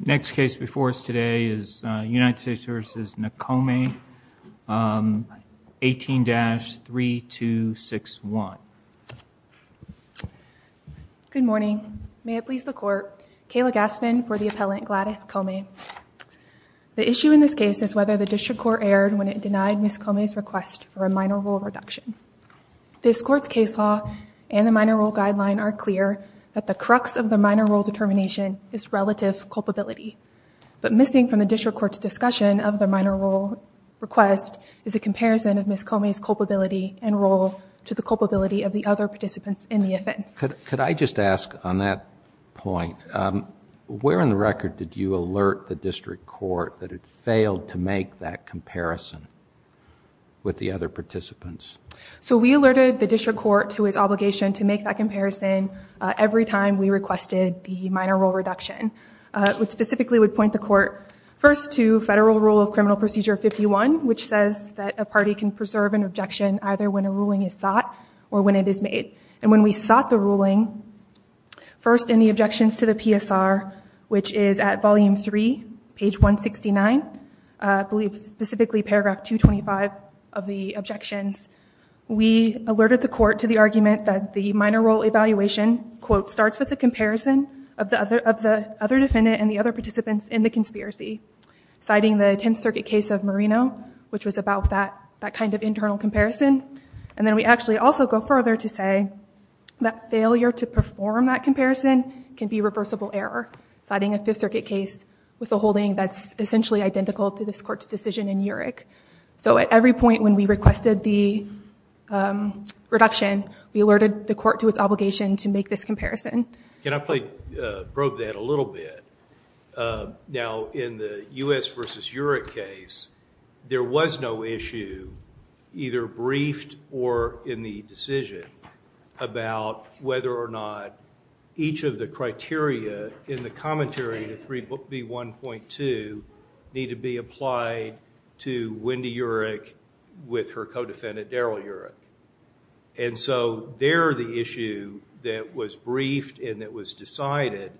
Next case before us today is United States v. Nkome, 18-3261. Good morning. May it please the court. Kayla Gassman for the appellant Gladys Nkome. The issue in this case is whether the district court erred when it denied Ms. Nkome's request for a minor role reduction. This court's case law and the minor role guideline are clear that the crux of the minor role determination is relative culpability. But missing from the district court's discussion of the minor role request is a comparison of Ms. Nkome's culpability and role to the culpability of the other participants in the offense. Could I just ask on that point, where in the record did you alert the district court that it failed to make that comparison with the other participants? So we alerted the district court to its obligation to make that comparison every time we requested the minor role reduction. We specifically would point the court first to Federal Rule of Criminal Procedure 51, which says that a party can preserve an objection either when a ruling is sought or when it is made. And when we sought the ruling, first in the objections to the PSR, which is at volume 3, page 169, I believe specifically paragraph 225 of the objections, we alerted the court to the argument that the minor role evaluation, quote, starts with a comparison of the other defendant and the other participants in the conspiracy. Citing the Tenth Circuit case of Marino, which was about that kind of internal comparison. And then we actually also go further to say that failure to perform that comparison can be reversible error. Citing a Fifth Circuit case with a holding that's essentially identical to this court's decision in URIC. So at every point when we requested the reduction, we alerted the court to its obligation to make this comparison. Can I probe that a little bit? Now, in the U.S. versus URIC case, there was no issue, either briefed or in the decision, about whether or not each of the criteria in the commentary to 3B1.2 need to be applied to Wendy URIC with her co-defendant, Darryl URIC. And so there the issue that was briefed and that was decided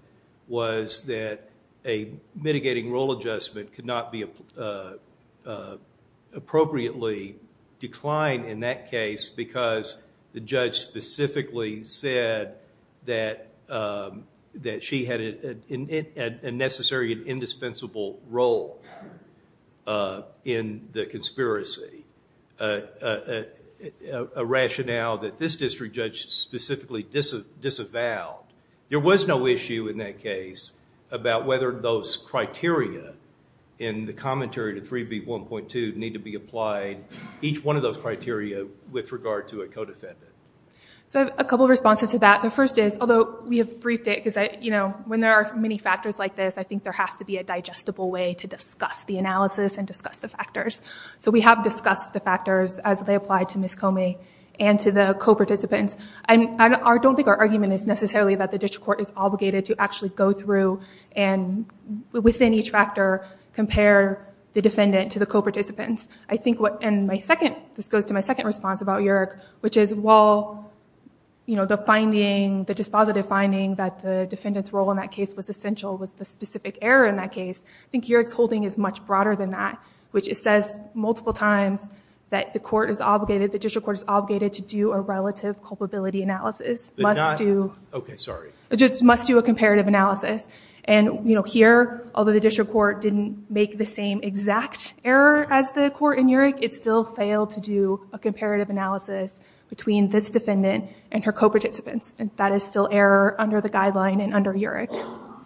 was that a mitigating role adjustment could not be appropriately declined in that case because the judge specifically said that she had a necessary and indispensable role in the conspiracy. A rationale that this district judge specifically disavowed. There was no issue in that case about whether those criteria in the commentary to 3B1.2 need to be applied. Each one of those criteria with regard to a co-defendant. So I have a couple of responses to that. The first is, although we have briefed it because when there are many factors like this, I think there has to be a digestible way to discuss the analysis and discuss the factors. So we have discussed the factors as they apply to Ms. Comey and to the co-participants. I don't think our argument is necessarily that the district court is obligated to actually go through and within each factor compare the defendant to the co-participants. And this goes to my second response about Yerrick, which is while the finding, the dispositive finding that the defendant's role in that case was essential was the specific error in that case. I think Yerrick's holding is much broader than that, which it says multiple times that the court is obligated, the district court is obligated to do a relative culpability analysis. It must do a comparative analysis. And here, although the district court didn't make the same exact error as the court in Yerrick, it still failed to do a comparative analysis between this defendant and her co-participants. That is still error under the guideline and under Yerrick.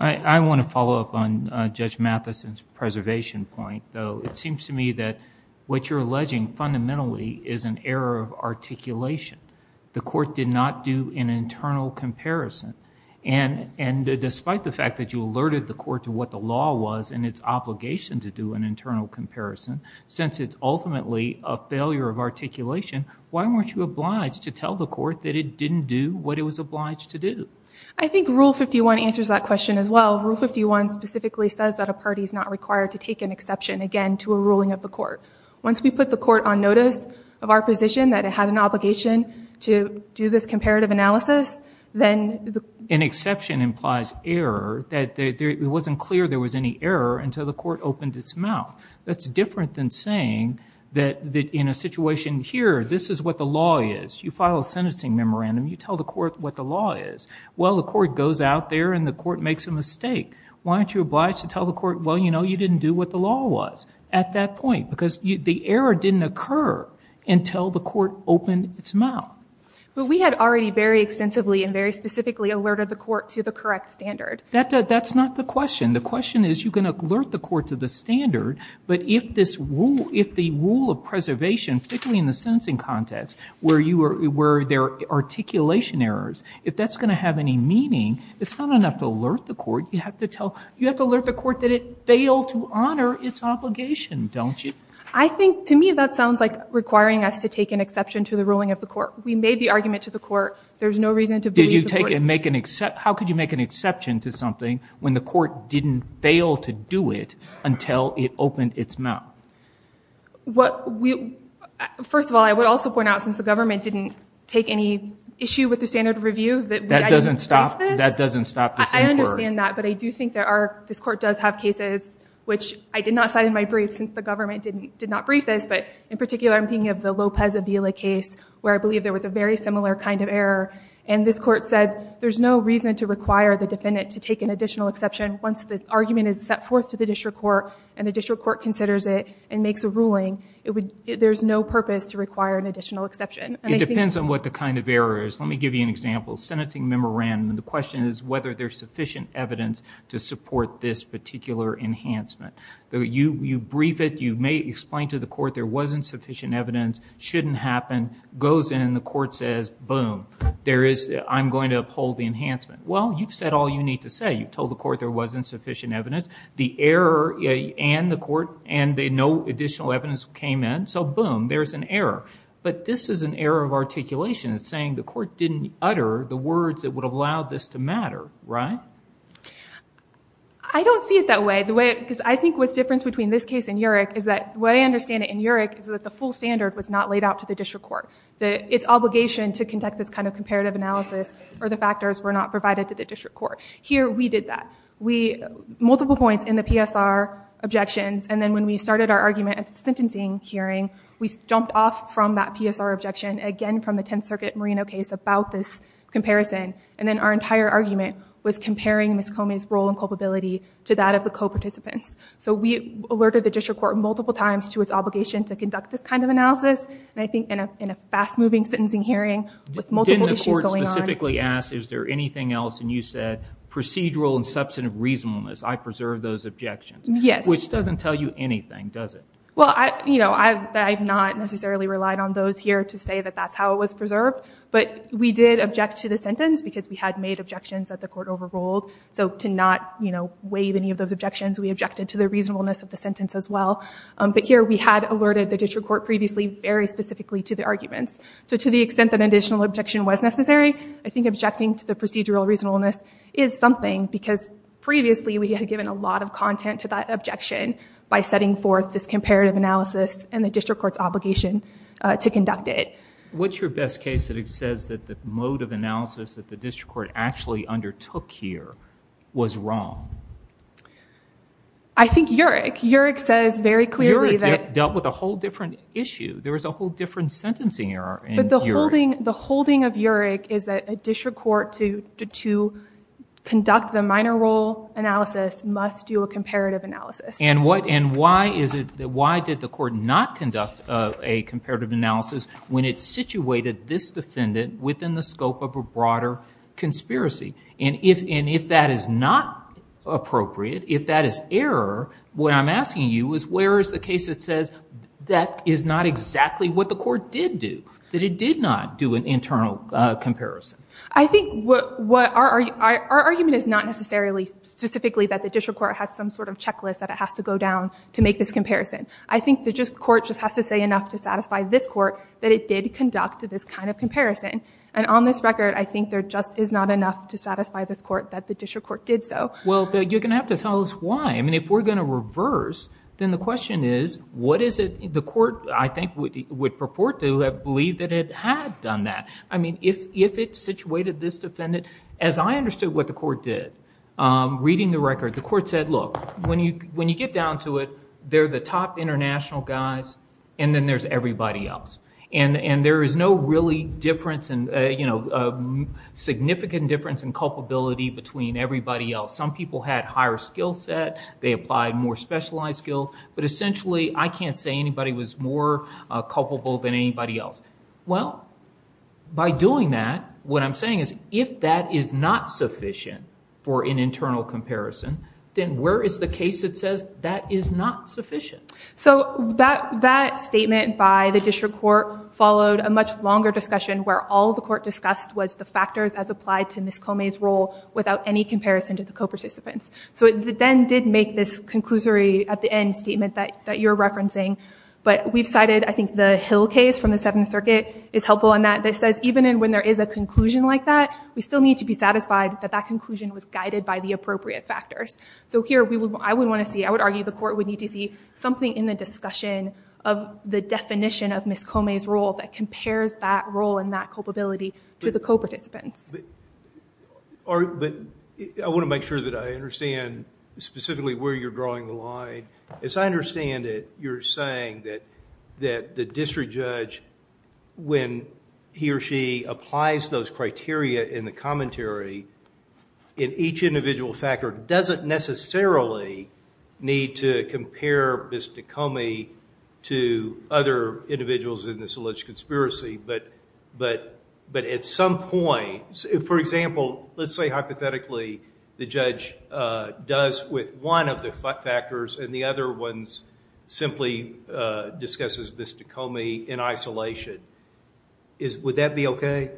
I want to follow up on Judge Mathison's preservation point, though. It seems to me that what you're alleging fundamentally is an error of articulation. The court did not do an internal comparison. And despite the fact that you alerted the court to what the law was and its obligation to do an internal comparison, since it's ultimately a failure of articulation, why weren't you obliged to tell the court that it didn't do what it was obliged to do? I think Rule 51 answers that question as well. Rule 51 specifically says that a party is not required to take an exception, again, to a ruling of the court. Once we put the court on notice of our position that it had an obligation to do this comparative analysis, An exception implies error. It wasn't clear there was any error until the court opened its mouth. That's different than saying that in a situation here, this is what the law is. You file a sentencing memorandum. You tell the court what the law is. Well, the court goes out there and the court makes a mistake. Why aren't you obliged to tell the court, well, you know, you didn't do what the law was at that point? Because the error didn't occur until the court opened its mouth. But we had already very extensively and very specifically alerted the court to the correct standard. That's not the question. The question is you're going to alert the court to the standard, but if the rule of preservation, particularly in the sentencing context, where there are articulation errors, if that's going to have any meaning, it's not enough to alert the court. You have to alert the court that it failed to honor its obligation, don't you? I think, to me, that sounds like requiring us to take an exception to the ruling of the court. We made the argument to the court. There's no reason to believe the court. How could you make an exception to something when the court didn't fail to do it until it opened its mouth? First of all, I would also point out, since the government didn't take any issue with the standard review, that I didn't brief this. That doesn't stop the same court. I understand that, but I do think this court does have cases, which I did not cite in my brief since the government did not brief this, but in particular, I'm thinking of the Lopez Avila case, where I believe there was a very similar kind of error, and this court said there's no reason to require the defendant to take an additional exception. Once the argument is set forth to the district court and the district court considers it and makes a ruling, there's no purpose to require an additional exception. It depends on what the kind of error is. Let me give you an example. Sentencing memorandum. The question is whether there's sufficient evidence to support this particular enhancement. You brief it, you explain to the court there wasn't sufficient evidence, shouldn't happen, goes in, and the court says, boom, I'm going to uphold the enhancement. Well, you've said all you need to say. You've told the court there wasn't sufficient evidence. The error, and the court, and no additional evidence came in, so boom, there's an error. But this is an error of articulation. It's saying the court didn't utter the words that would have allowed this to matter, right? I don't see it that way. Because I think what's different between this case and Yurik is that the way I understand it in Yurik is that the full standard was not laid out to the district court, that it's obligation to conduct this kind of comparative analysis or the factors were not provided to the district court. Here, we did that. Multiple points in the PSR objections, and then when we started our argument at the sentencing hearing, we jumped off from that PSR objection, again, from the Tenth Circuit Marino case about this comparison, and then our entire argument was comparing Ms. Comey's role and culpability to that of the co-participants. So we alerted the district court multiple times to its obligation to conduct this kind of analysis, and I think in a fast-moving sentencing hearing with multiple issues going on. Didn't the court specifically ask, is there anything else? And you said procedural and substantive reasonableness. I preserve those objections. Yes. Which doesn't tell you anything, does it? Well, you know, I've not necessarily relied on those here to say that that's how it was preserved, but we did object to the sentence because we had made objections that the court overruled. So to not, you know, waive any of those objections, we objected to the reasonableness of the sentence as well. But here, we had alerted the district court previously very specifically to the arguments. So to the extent that additional objection was necessary, I think objecting to the procedural reasonableness is something because previously we had given a lot of content to that objection by setting forth this comparative analysis and the district court's obligation to conduct it. What's your best case that says that the mode of analysis that the district court actually undertook here was wrong? I think URIC. URIC says very clearly that— URIC dealt with a whole different issue. There was a whole different sentencing error in URIC. But the holding of URIC is that a district court to conduct the minor role analysis must do a comparative analysis. And why did the court not conduct a comparative analysis when it situated this defendant within the scope of a broader conspiracy? And if that is not appropriate, if that is error, what I'm asking you is where is the case that says that is not exactly what the court did do, that it did not do an internal comparison? I think our argument is not necessarily specifically that the district court has some sort of checklist that it has to go down to make this comparison. I think the court just has to say enough to satisfy this court that it did conduct this kind of comparison. And on this record, I think there just is not enough to satisfy this court that the district court did so. Well, you're going to have to tell us why. I mean, if we're going to reverse, then the question is what is it the court, I think, would purport to have believed that it had done that. I mean, if it situated this defendant, as I understood what the court did, reading the record, the court said, look, when you get down to it, they're the top international guys, and then there's everybody else. And there is no really significant difference in culpability between everybody else. Some people had higher skill set. They applied more specialized skills. But essentially, I can't say anybody was more culpable than anybody else. Well, by doing that, what I'm saying is if that is not sufficient for an internal comparison, then where is the case that says that is not sufficient? So that statement by the district court followed a much longer discussion where all the court discussed was the factors as applied to Ms. Comey's role without any comparison to the co-participants. So it then did make this conclusory at the end statement that you're referencing. But we've cited, I think, the Hill case from the Seventh Circuit is helpful in that. It says even when there is a conclusion like that, we still need to be satisfied that that conclusion was guided by the appropriate factors. So here, I would argue the court would need to see something in the discussion of the definition of Ms. Comey's role that compares that role and that culpability to the co-participants. But I want to make sure that I understand specifically where you're drawing the line. As I understand it, you're saying that the district judge, when he or she applies those criteria in the commentary, in each individual factor doesn't necessarily need to compare Ms. Comey to other individuals in this alleged conspiracy. But at some point, for example, let's say hypothetically the judge does with one of the factors and the other one simply discusses Ms. Comey in isolation. Would that be OK?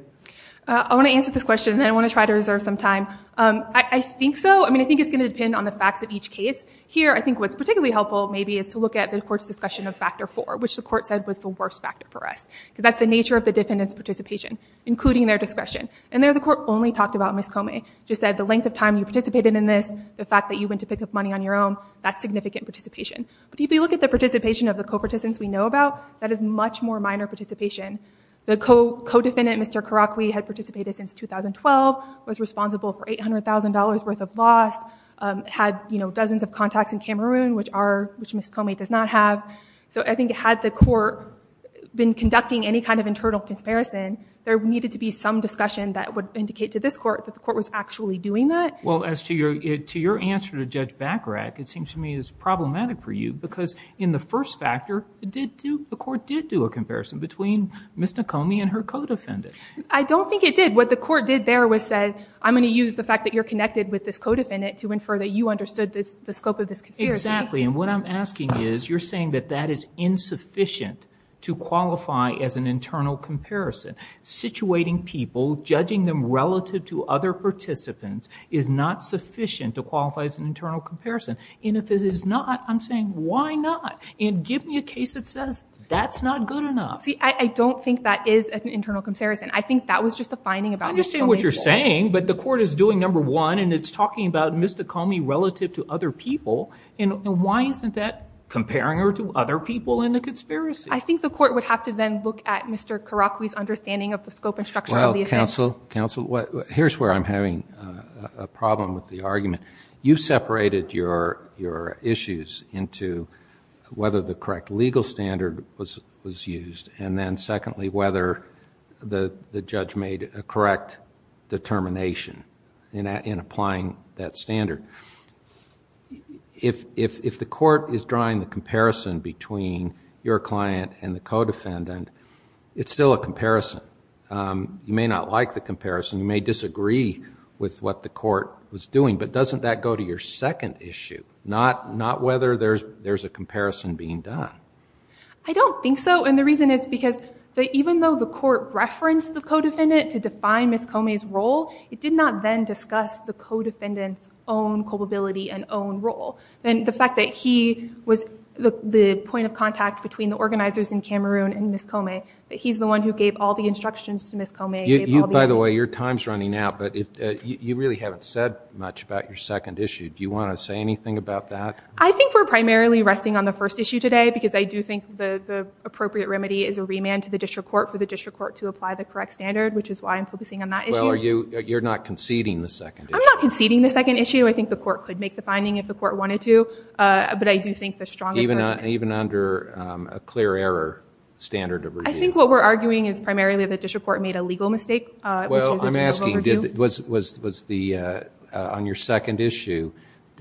I want to answer this question, and I want to try to reserve some time. I think so. I mean, I think it's going to depend on the facts of each case. Here, I think what's particularly helpful maybe is to look at the court's discussion of factor four, which the court said was the worst factor for us. Because that's the nature of the defendant's participation, including their discretion. And there, the court only talked about Ms. Comey. Just said the length of time you participated in this, the fact that you went to pick up money on your own, that's significant participation. But if you look at the participation of the co-participants we know about, that is much more minor participation. The co-defendant, Mr. Karakuy, had participated since 2012, was responsible for $800,000 worth of loss, had dozens of contacts in Cameroon, which Ms. Comey does not have. So I think had the court been conducting any kind of internal comparison, there needed to be some discussion that would indicate to this court that the court was actually doing that. Well, as to your answer to Judge Bacharach, it seems to me is problematic for you because in the first factor, the court did do a comparison between Ms. Comey and her co-defendant. I don't think it did. What the court did there was said, I'm going to use the fact that you're connected with this co-defendant to infer that you understood the scope of this conspiracy. Exactly. And what I'm asking is, you're saying that that is insufficient to qualify as an internal comparison. Situating people, judging them relative to other participants is not sufficient to qualify as an internal comparison. And if it is not, I'm saying, why not? And give me a case that says that's not good enough. See, I don't think that is an internal comparison. I think that was just a finding about Ms. Comey. I understand what you're saying, but the court is doing, number one, and it's talking about Ms. Comey relative to other people. And why isn't that comparing her to other people in the conspiracy? I think the court would have to then look at Mr. Caracui's understanding of the scope and structure of the event. Well, counsel, here's where I'm having a problem with the argument. You separated your issues into whether the correct legal standard was used and then, secondly, whether the judge made a correct determination in applying that standard. If the court is drawing the comparison between your client and the co-defendant, it's still a comparison. You may not like the comparison. You may disagree with what the court was doing. But doesn't that go to your second issue? Not whether there's a comparison being done. I don't think so. And the reason is because even though the court referenced the co-defendant to define Ms. Comey's role, it did not then discuss the co-defendant's own culpability and own role. And the fact that he was the point of contact between the organizers in Cameroon and Ms. Comey, that he's the one who gave all the instructions to Ms. Comey. By the way, your time's running out, but you really haven't said much about your second issue. Do you want to say anything about that? I think we're primarily resting on the first issue today because I do think the appropriate remedy is a remand to the district court for the district court to apply the correct standard, which is why I'm focusing on that issue. Well, you're not conceding the second issue. I'm not conceding the second issue. I think the court could make the finding if the court wanted to, but I do think the strongest remedy. Even under a clear error standard of review? I think what we're arguing is primarily the district court made a legal mistake, which is a terrible review. Well, I'm asking, on your second issue,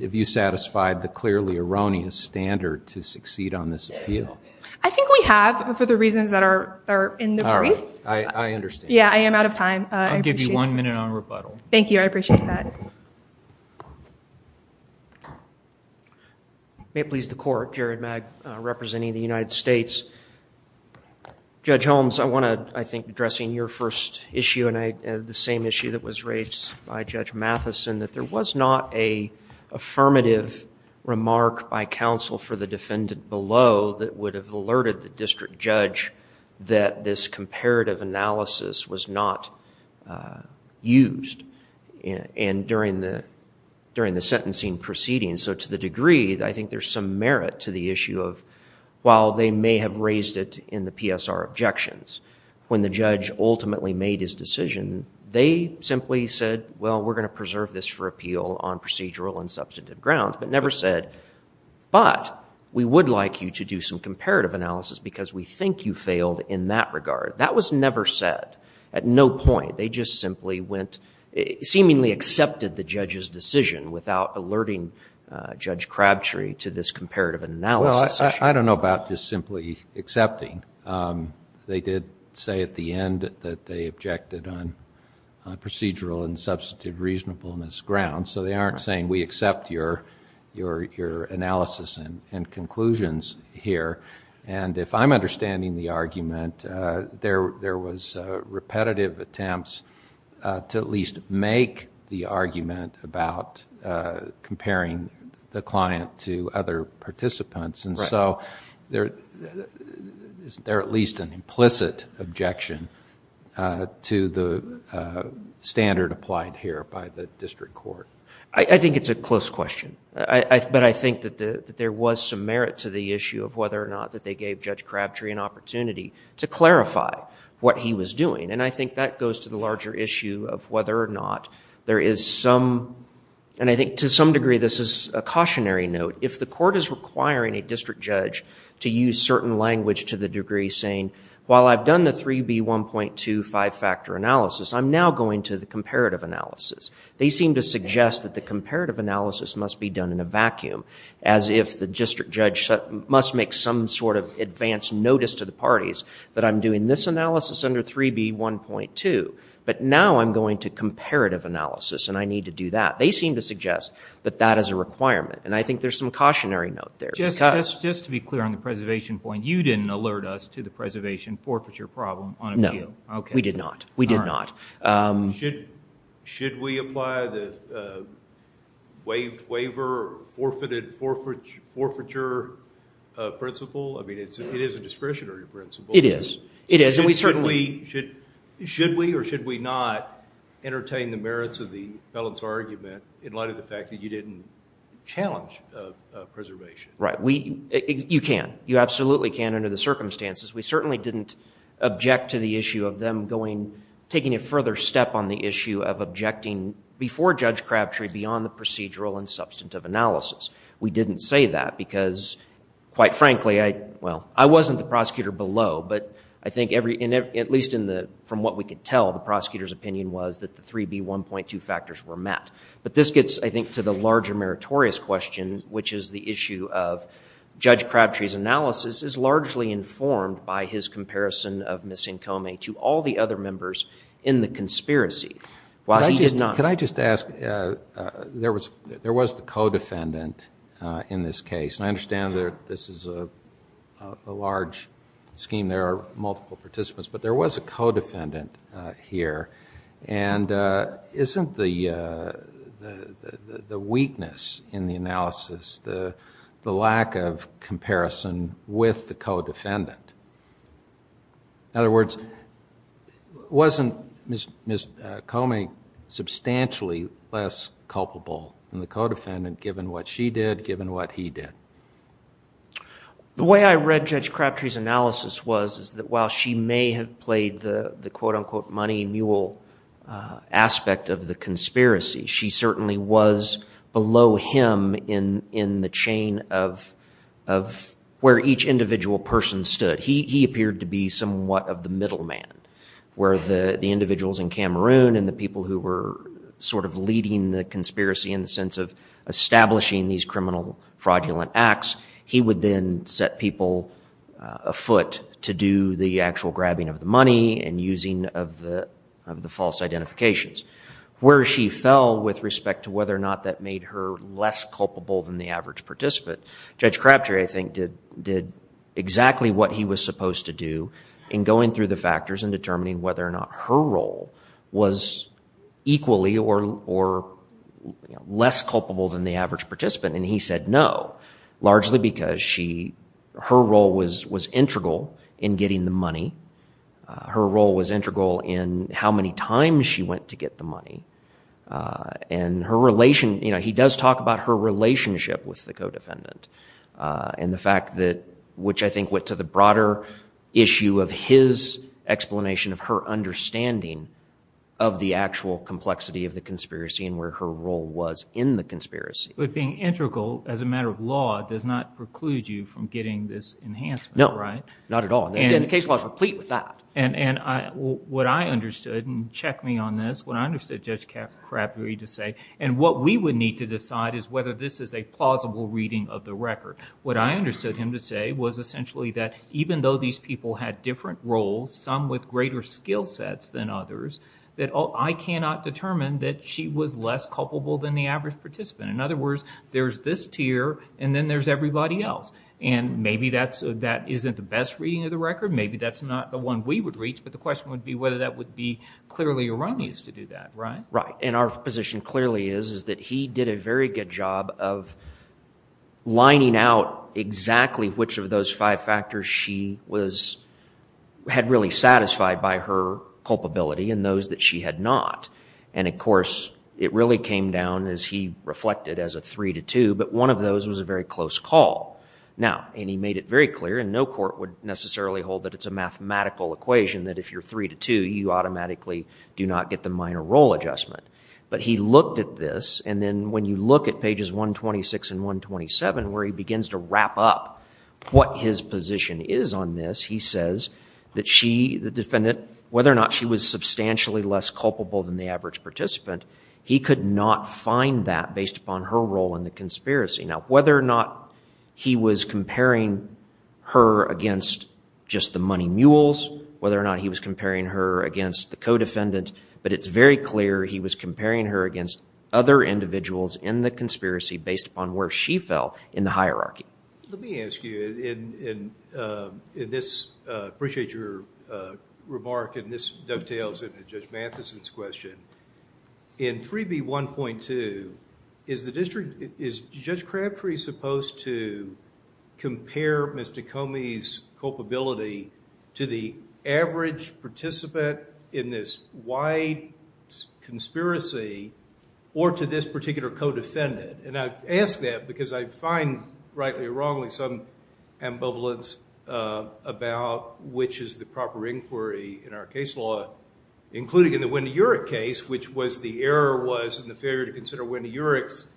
have you satisfied the clearly erroneous standard to succeed on this appeal? I think we have for the reasons that are in the brief. All right. I understand. Yeah, I am out of time. I appreciate it. I'll give you one minute on rebuttal. Thank you. I appreciate that. May it please the Court. Jared Magg representing the United States. Judge Holmes, I want to, I think, addressing your first issue and the same issue that was raised by Judge Matheson, that there was not an affirmative remark by counsel for the defendant below that would have alerted the district judge that this comparative analysis was not used during the sentencing proceedings. So to the degree, I think there's some merit to the issue of, while they may have raised it in the PSR objections, when the judge ultimately made his decision, they simply said, well, we're going to preserve this for appeal on procedural and substantive grounds, but never said, but we would like you to do some comparative analysis because we think you failed in that regard. That was never said. At no point, they just simply went, seemingly accepted the judge's decision without alerting Judge Crabtree to this comparative analysis. Well, I don't know about just simply accepting. They did say at the end that they objected on procedural and substantive reasonableness grounds. So they aren't saying we accept your analysis and conclusions here. If I'm understanding the argument, there was repetitive attempts to at least make the argument about comparing the client to other participants. So is there at least an implicit objection to the standard applied here by the district court? I think it's a close question. But I think that there was some merit to the issue of whether or not that they gave Judge Crabtree an opportunity to clarify what he was doing. And I think that goes to the larger issue of whether or not there is some, and I think to some degree this is a cautionary note, if the court is requiring a district judge to use certain language to the degree saying, while I've done the 3B 1.25 factor analysis, I'm now going to the comparative analysis. They seem to suggest that the comparative analysis must be done in a vacuum, as if the district judge must make some sort of advance notice to the parties that I'm doing this analysis under 3B 1.2. But now I'm going to comparative analysis and I need to do that. They seem to suggest that that is a requirement. And I think there's some cautionary note there. Just to be clear on the preservation point, you didn't alert us to the preservation forfeiture problem on appeal. No, we did not. We did not. Should we apply the waiver forfeiture principle? I mean, it is a discretionary principle. It is. Should we or should we not entertain the merits of the felon's argument in light of the fact that you didn't challenge preservation? Right. You can. You absolutely can under the circumstances. We certainly didn't object to the issue of them taking a further step on the issue of objecting before Judge Crabtree beyond the procedural and substantive analysis. We didn't say that because, quite frankly, well, I wasn't the prosecutor below. But I think, at least from what we could tell, the prosecutor's opinion was that the 3B 1.2 factors were met. But this gets, I think, to the larger meritorious question, which is the issue of Judge Crabtree's analysis is largely informed by his comparison of Misincome to all the other members in the conspiracy. While he did not... Could I just ask, there was the co-defendant in this case. And I understand that this is a large scheme. There are multiple participants. But there was a co-defendant here. And isn't the weakness in the analysis the lack of comparison with the co-defendant? In other words, wasn't Ms. Comey substantially less culpable than the co-defendant, given what she did, given what he did? The way I read Judge Crabtree's analysis was, while she may have played the quote-unquote money mule aspect of the conspiracy, she certainly was below him in the chain of where each individual person stood. He appeared to be somewhat of the middle man, where the individuals in Cameroon and the people who were sort of leading the conspiracy in the sense of establishing these criminal fraudulent acts, he would then set people afoot to do the actual grabbing of the money and using of the false identifications. Where she fell with respect to whether or not that made her less culpable than the average participant, Judge Crabtree, I think, did exactly what he was supposed to do in going through the factors and determining whether or not her role was equally or less culpable than the average participant. And he said no, largely because her role was integral in getting the money. Her role was integral in how many times she went to get the money. And her relation, you know, he does talk about her relationship with the co-defendant and the fact that, which I think went to the broader issue of his explanation of her understanding of the actual complexity of the conspiracy and where her role was in the conspiracy. But being integral as a matter of law does not preclude you from getting this enhancement, right? No, not at all. And the case was complete with that. And what I understood, and check me on this, what I understood Judge Crabtree to say, and what we would need to decide is whether this is a plausible reading of the record. What I understood him to say was essentially that even though these people had different roles, some with greater skill sets than others, that I cannot determine that she was less culpable than the average participant. In other words, there's this tier and then there's everybody else. And maybe that isn't the best reading of the record. Maybe that's not the one we would reach. But the question would be whether that would be clearly erroneous to do that, right? Right. And our position clearly is that he did a very good job of lining out exactly which of those five factors she had really satisfied by her culpability and those that she had not. And of course, it really came down as he reflected as a three to two, but one of those was a very close call. Now, and he made it very clear, and no court would necessarily hold that it's a mathematical equation, that if you're three to two, you automatically do not get the minor role adjustment. But he looked at this, and then when you look at pages 126 and 127, where he begins to wrap up what his position is on this, he says that she, the defendant, whether or not she was substantially less culpable than the average participant, he could not find that based upon her role in the conspiracy. Now, whether or not he was comparing her against just the money mules, whether or not he was comparing her against the co-defendant, but it's very clear he was comparing her against other individuals in the conspiracy based upon where she fell in the hierarchy. Let me ask you, and I appreciate your remark, and this dovetails into Judge Matheson's question. In 3B1.2, is Judge Crabtree supposed to compare Ms. Dekomi's culpability to the average participant in this wide conspiracy or to this particular co-defendant? And I ask that because I find, rightly or wrongly, some ambivalence about which is the proper inquiry in our case law, including in the Wendy Uric case, which was the error was in the failure to consider Wendy Uric's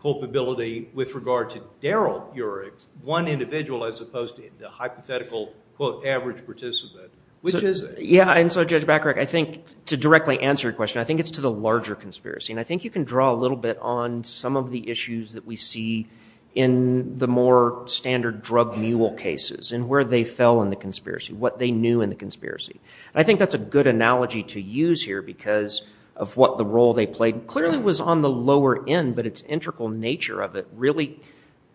culpability with regard to Daryl Uric's, one individual, as opposed to the hypothetical, quote, average participant. Which is it? Yeah, and so, Judge Bacharach, I think, to directly answer your question, I think it's to the larger conspiracy. And I think you can draw a little bit on some of the issues that we see in the more standard drug mule cases and where they fell in the conspiracy, what they knew in the conspiracy. I think that's a good analogy to use here because of what the role they played, clearly was on the lower end, but its integral nature of it really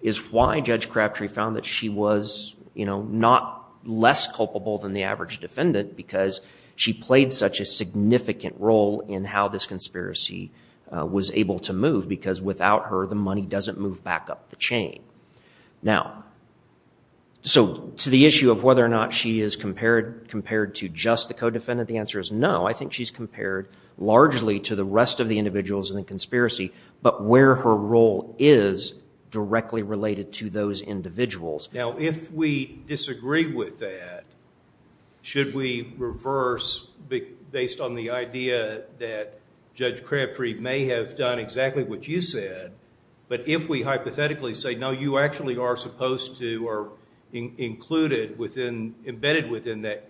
is why Judge Crabtree found that she was, you know, not less culpable than the average defendant because she played such a significant role in how this conspiracy was able to move because without her, the money doesn't move back up the chain. Now, so to the issue of whether or not she is compared to just the co-defendant, the answer is no. I think she's compared largely to the rest of the individuals in the conspiracy, but where her role is directly related to those individuals. Now, if we disagree with that, should we reverse based on the idea that Judge Crabtree may have done exactly what you said, but if we hypothetically say, no, you actually are supposed to or included within, embedded within that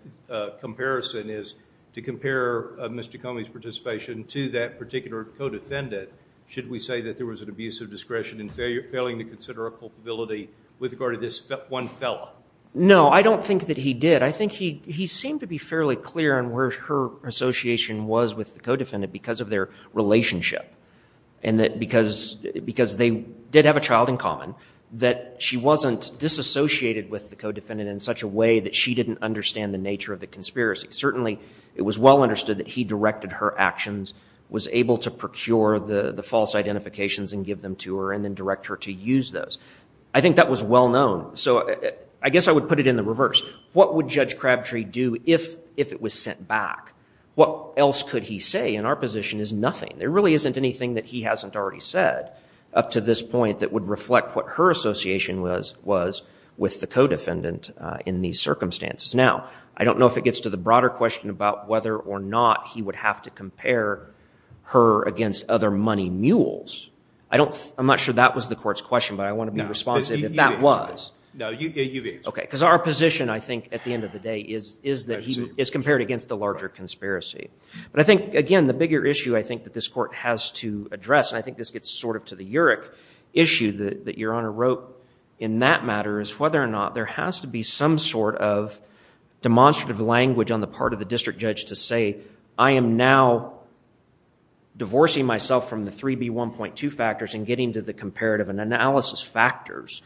comparison is to compare Mr. Comey's participation to that particular co-defendant, should we say that there was an abuse of discretion and failing to consider a culpability with regard to this one fellow? No, I don't think that he did. I think he seemed to be fairly clear on where her association was with the co-defendant because of their relationship and because they did have a child in common, that she wasn't disassociated with the co-defendant in such a way that she didn't understand the nature of the conspiracy. Certainly, it was well understood that he directed her actions, was able to procure the false identifications and give them to her and then direct her to use those. I think that was well known, so I guess I would put it in the reverse. What would Judge Crabtree do if it was sent back? What else could he say in our position is nothing. There really isn't anything that he hasn't already said up to this point that would reflect what her association was with the co-defendant in these circumstances. Now, I don't know if it gets to the broader question about whether or not he would have to compare her against other money mules. I'm not sure that was the court's question, but I want to be responsive if that was. No, you've answered it. Okay, because our position, I think, at the end of the day is that he is compared against the larger conspiracy. But I think, again, the bigger issue I think that this court has to address, and I think this gets sort of to the URIC issue that Your Honor wrote in that matter, is whether or not there has to be some sort of demonstrative language on the part of the district judge to say, I am now divorcing myself from the 3B1.2 factors and getting to the comparative and analysis factors.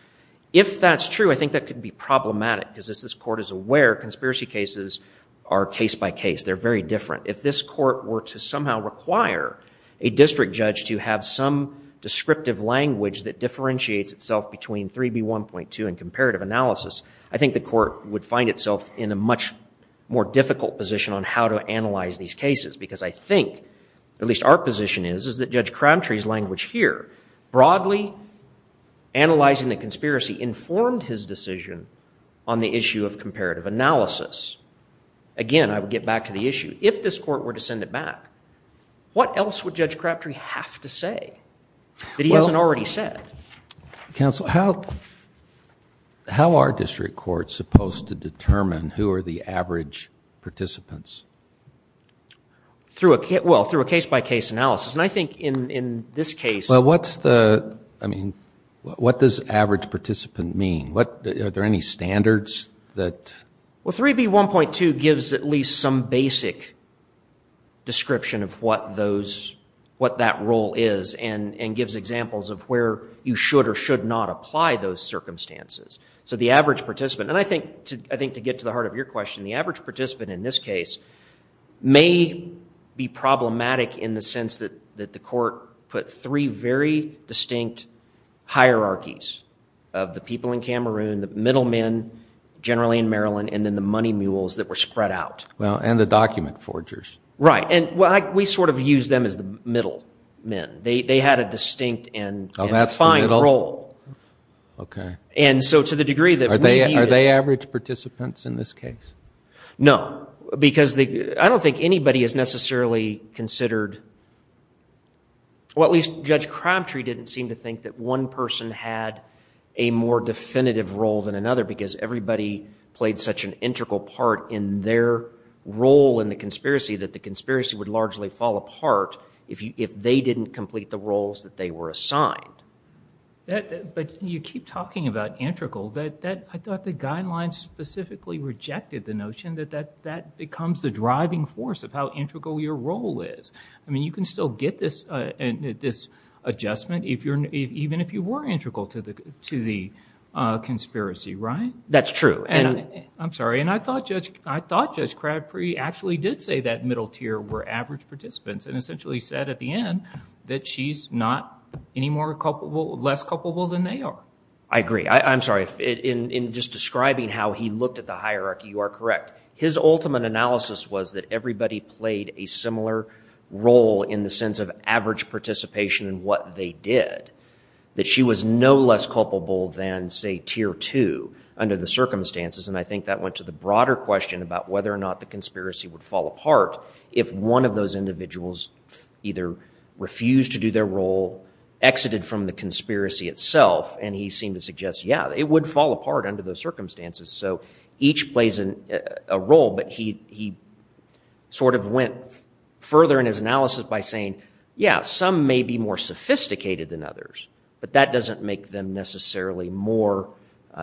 If that's true, I think that could be problematic because, as this court is aware, conspiracy cases are case by case. They're very different. If this court were to somehow require a district judge to have some descriptive language that differentiates itself between 3B1.2 and comparative analysis, I think the court would find itself in a much more difficult position on how to analyze these cases because I think, at least our position is, is that Judge Crabtree's language here, broadly analyzing the conspiracy, informed his decision on the issue of comparative analysis. Again, I would get back to the issue. If this court were to send it back, what else would Judge Crabtree have to say that he hasn't already said? Counsel, how are district courts supposed to determine who are the average participants? Well, through a case-by-case analysis, and I think in this case... Well, what's the, I mean, what does average participant mean? Are there any standards that... Well, 3B1.2 gives at least some basic description of what that role is and gives examples of where you should or should not apply those circumstances. So the average participant, and I think to get to the heart of your question, the average participant in this case may be problematic in the sense that the court put three very distinct hierarchies of the people in Cameroon, the middlemen generally in Maryland, and then the money mules that were spread out. Well, and the document forgers. Right, and we sort of use them as the middlemen. They had a distinct and defined role. Oh, that's the middle? Okay. And so to the degree that we view them... Are they average participants in this case? No, because I don't think anybody is necessarily considered... Well, at least Judge Crabtree didn't seem to think that one person had a more definitive role than another because everybody played such an integral part in their role in the conspiracy that the conspiracy would largely fall apart if they didn't complete the roles that they were assigned. But you keep talking about integral. I thought the guidelines specifically rejected the notion that that becomes the driving force of how integral your role is. I mean, you can still get this adjustment even if you were integral to the conspiracy, right? That's true. I'm sorry. And I thought Judge Crabtree actually did say that middle tier were average participants and essentially said at the end that she's not any less culpable than they are. I agree. I'm sorry. In just describing how he looked at the hierarchy, you are correct. His ultimate analysis was that everybody played a similar role in the sense of average participation in what they did, that she was no less culpable than, say, tier two under the circumstances. And I think that went to the broader question about whether or not the conspiracy would fall apart if one of those individuals either refused to do their role, exited from the conspiracy itself, and he seemed to suggest, yeah, it would fall apart under those circumstances. So each plays a role, but he sort of went further in his analysis by saying, yeah, some may be more sophisticated than others, but that doesn't make them necessarily more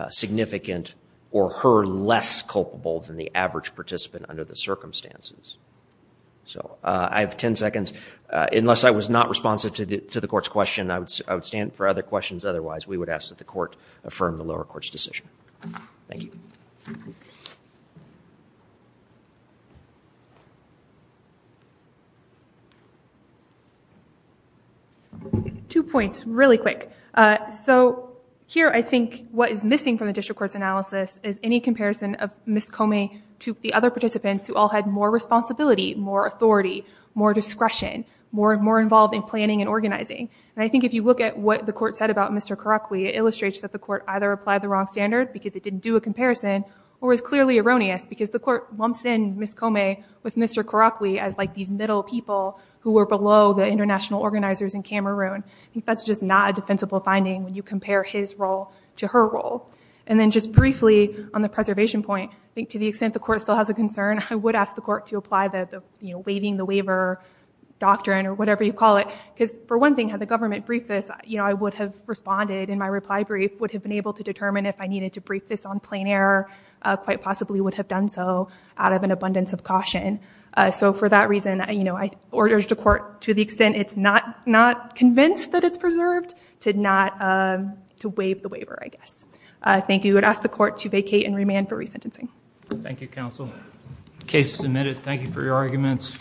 significant or her less culpable than the average participant under the circumstances. So I have 10 seconds. Unless I was not responsive to the court's question, I would stand for other questions. Otherwise, we would ask that the court affirm the lower court's decision. Thank you. Two points, really quick. So here I think what is missing from the district court's analysis is any comparison of Ms. Comey to the other participants who all had more responsibility, more authority, more discretion, more involved in planning and organizing. And I think if you look at what the court said about Mr. Karakuy, it illustrates that the court either applied the wrong standard because it didn't do a comparison or was clearly erroneous because the court lumps in Ms. Comey with Mr. Karakuy as like these middle people who were below the international organizers in Cameroon. I think that's just not a defensible finding when you compare his role to her role. And then just briefly on the preservation point, I think to the extent the court still has a concern, I would ask the court to apply the waiving the waiver doctrine or whatever you call it because, for one thing, had the government briefed this, I would have responded and my reply brief would have been able to determine if I needed to brief this on plain error, quite possibly would have done so out of an abundance of caution. So for that reason, I urge the court to the extent it's not convinced that it's preserved to waive the waiver, I guess. Thank you. I would ask the court to vacate and remand for resentencing. Thank you, counsel. The case is submitted. Thank you for your arguments.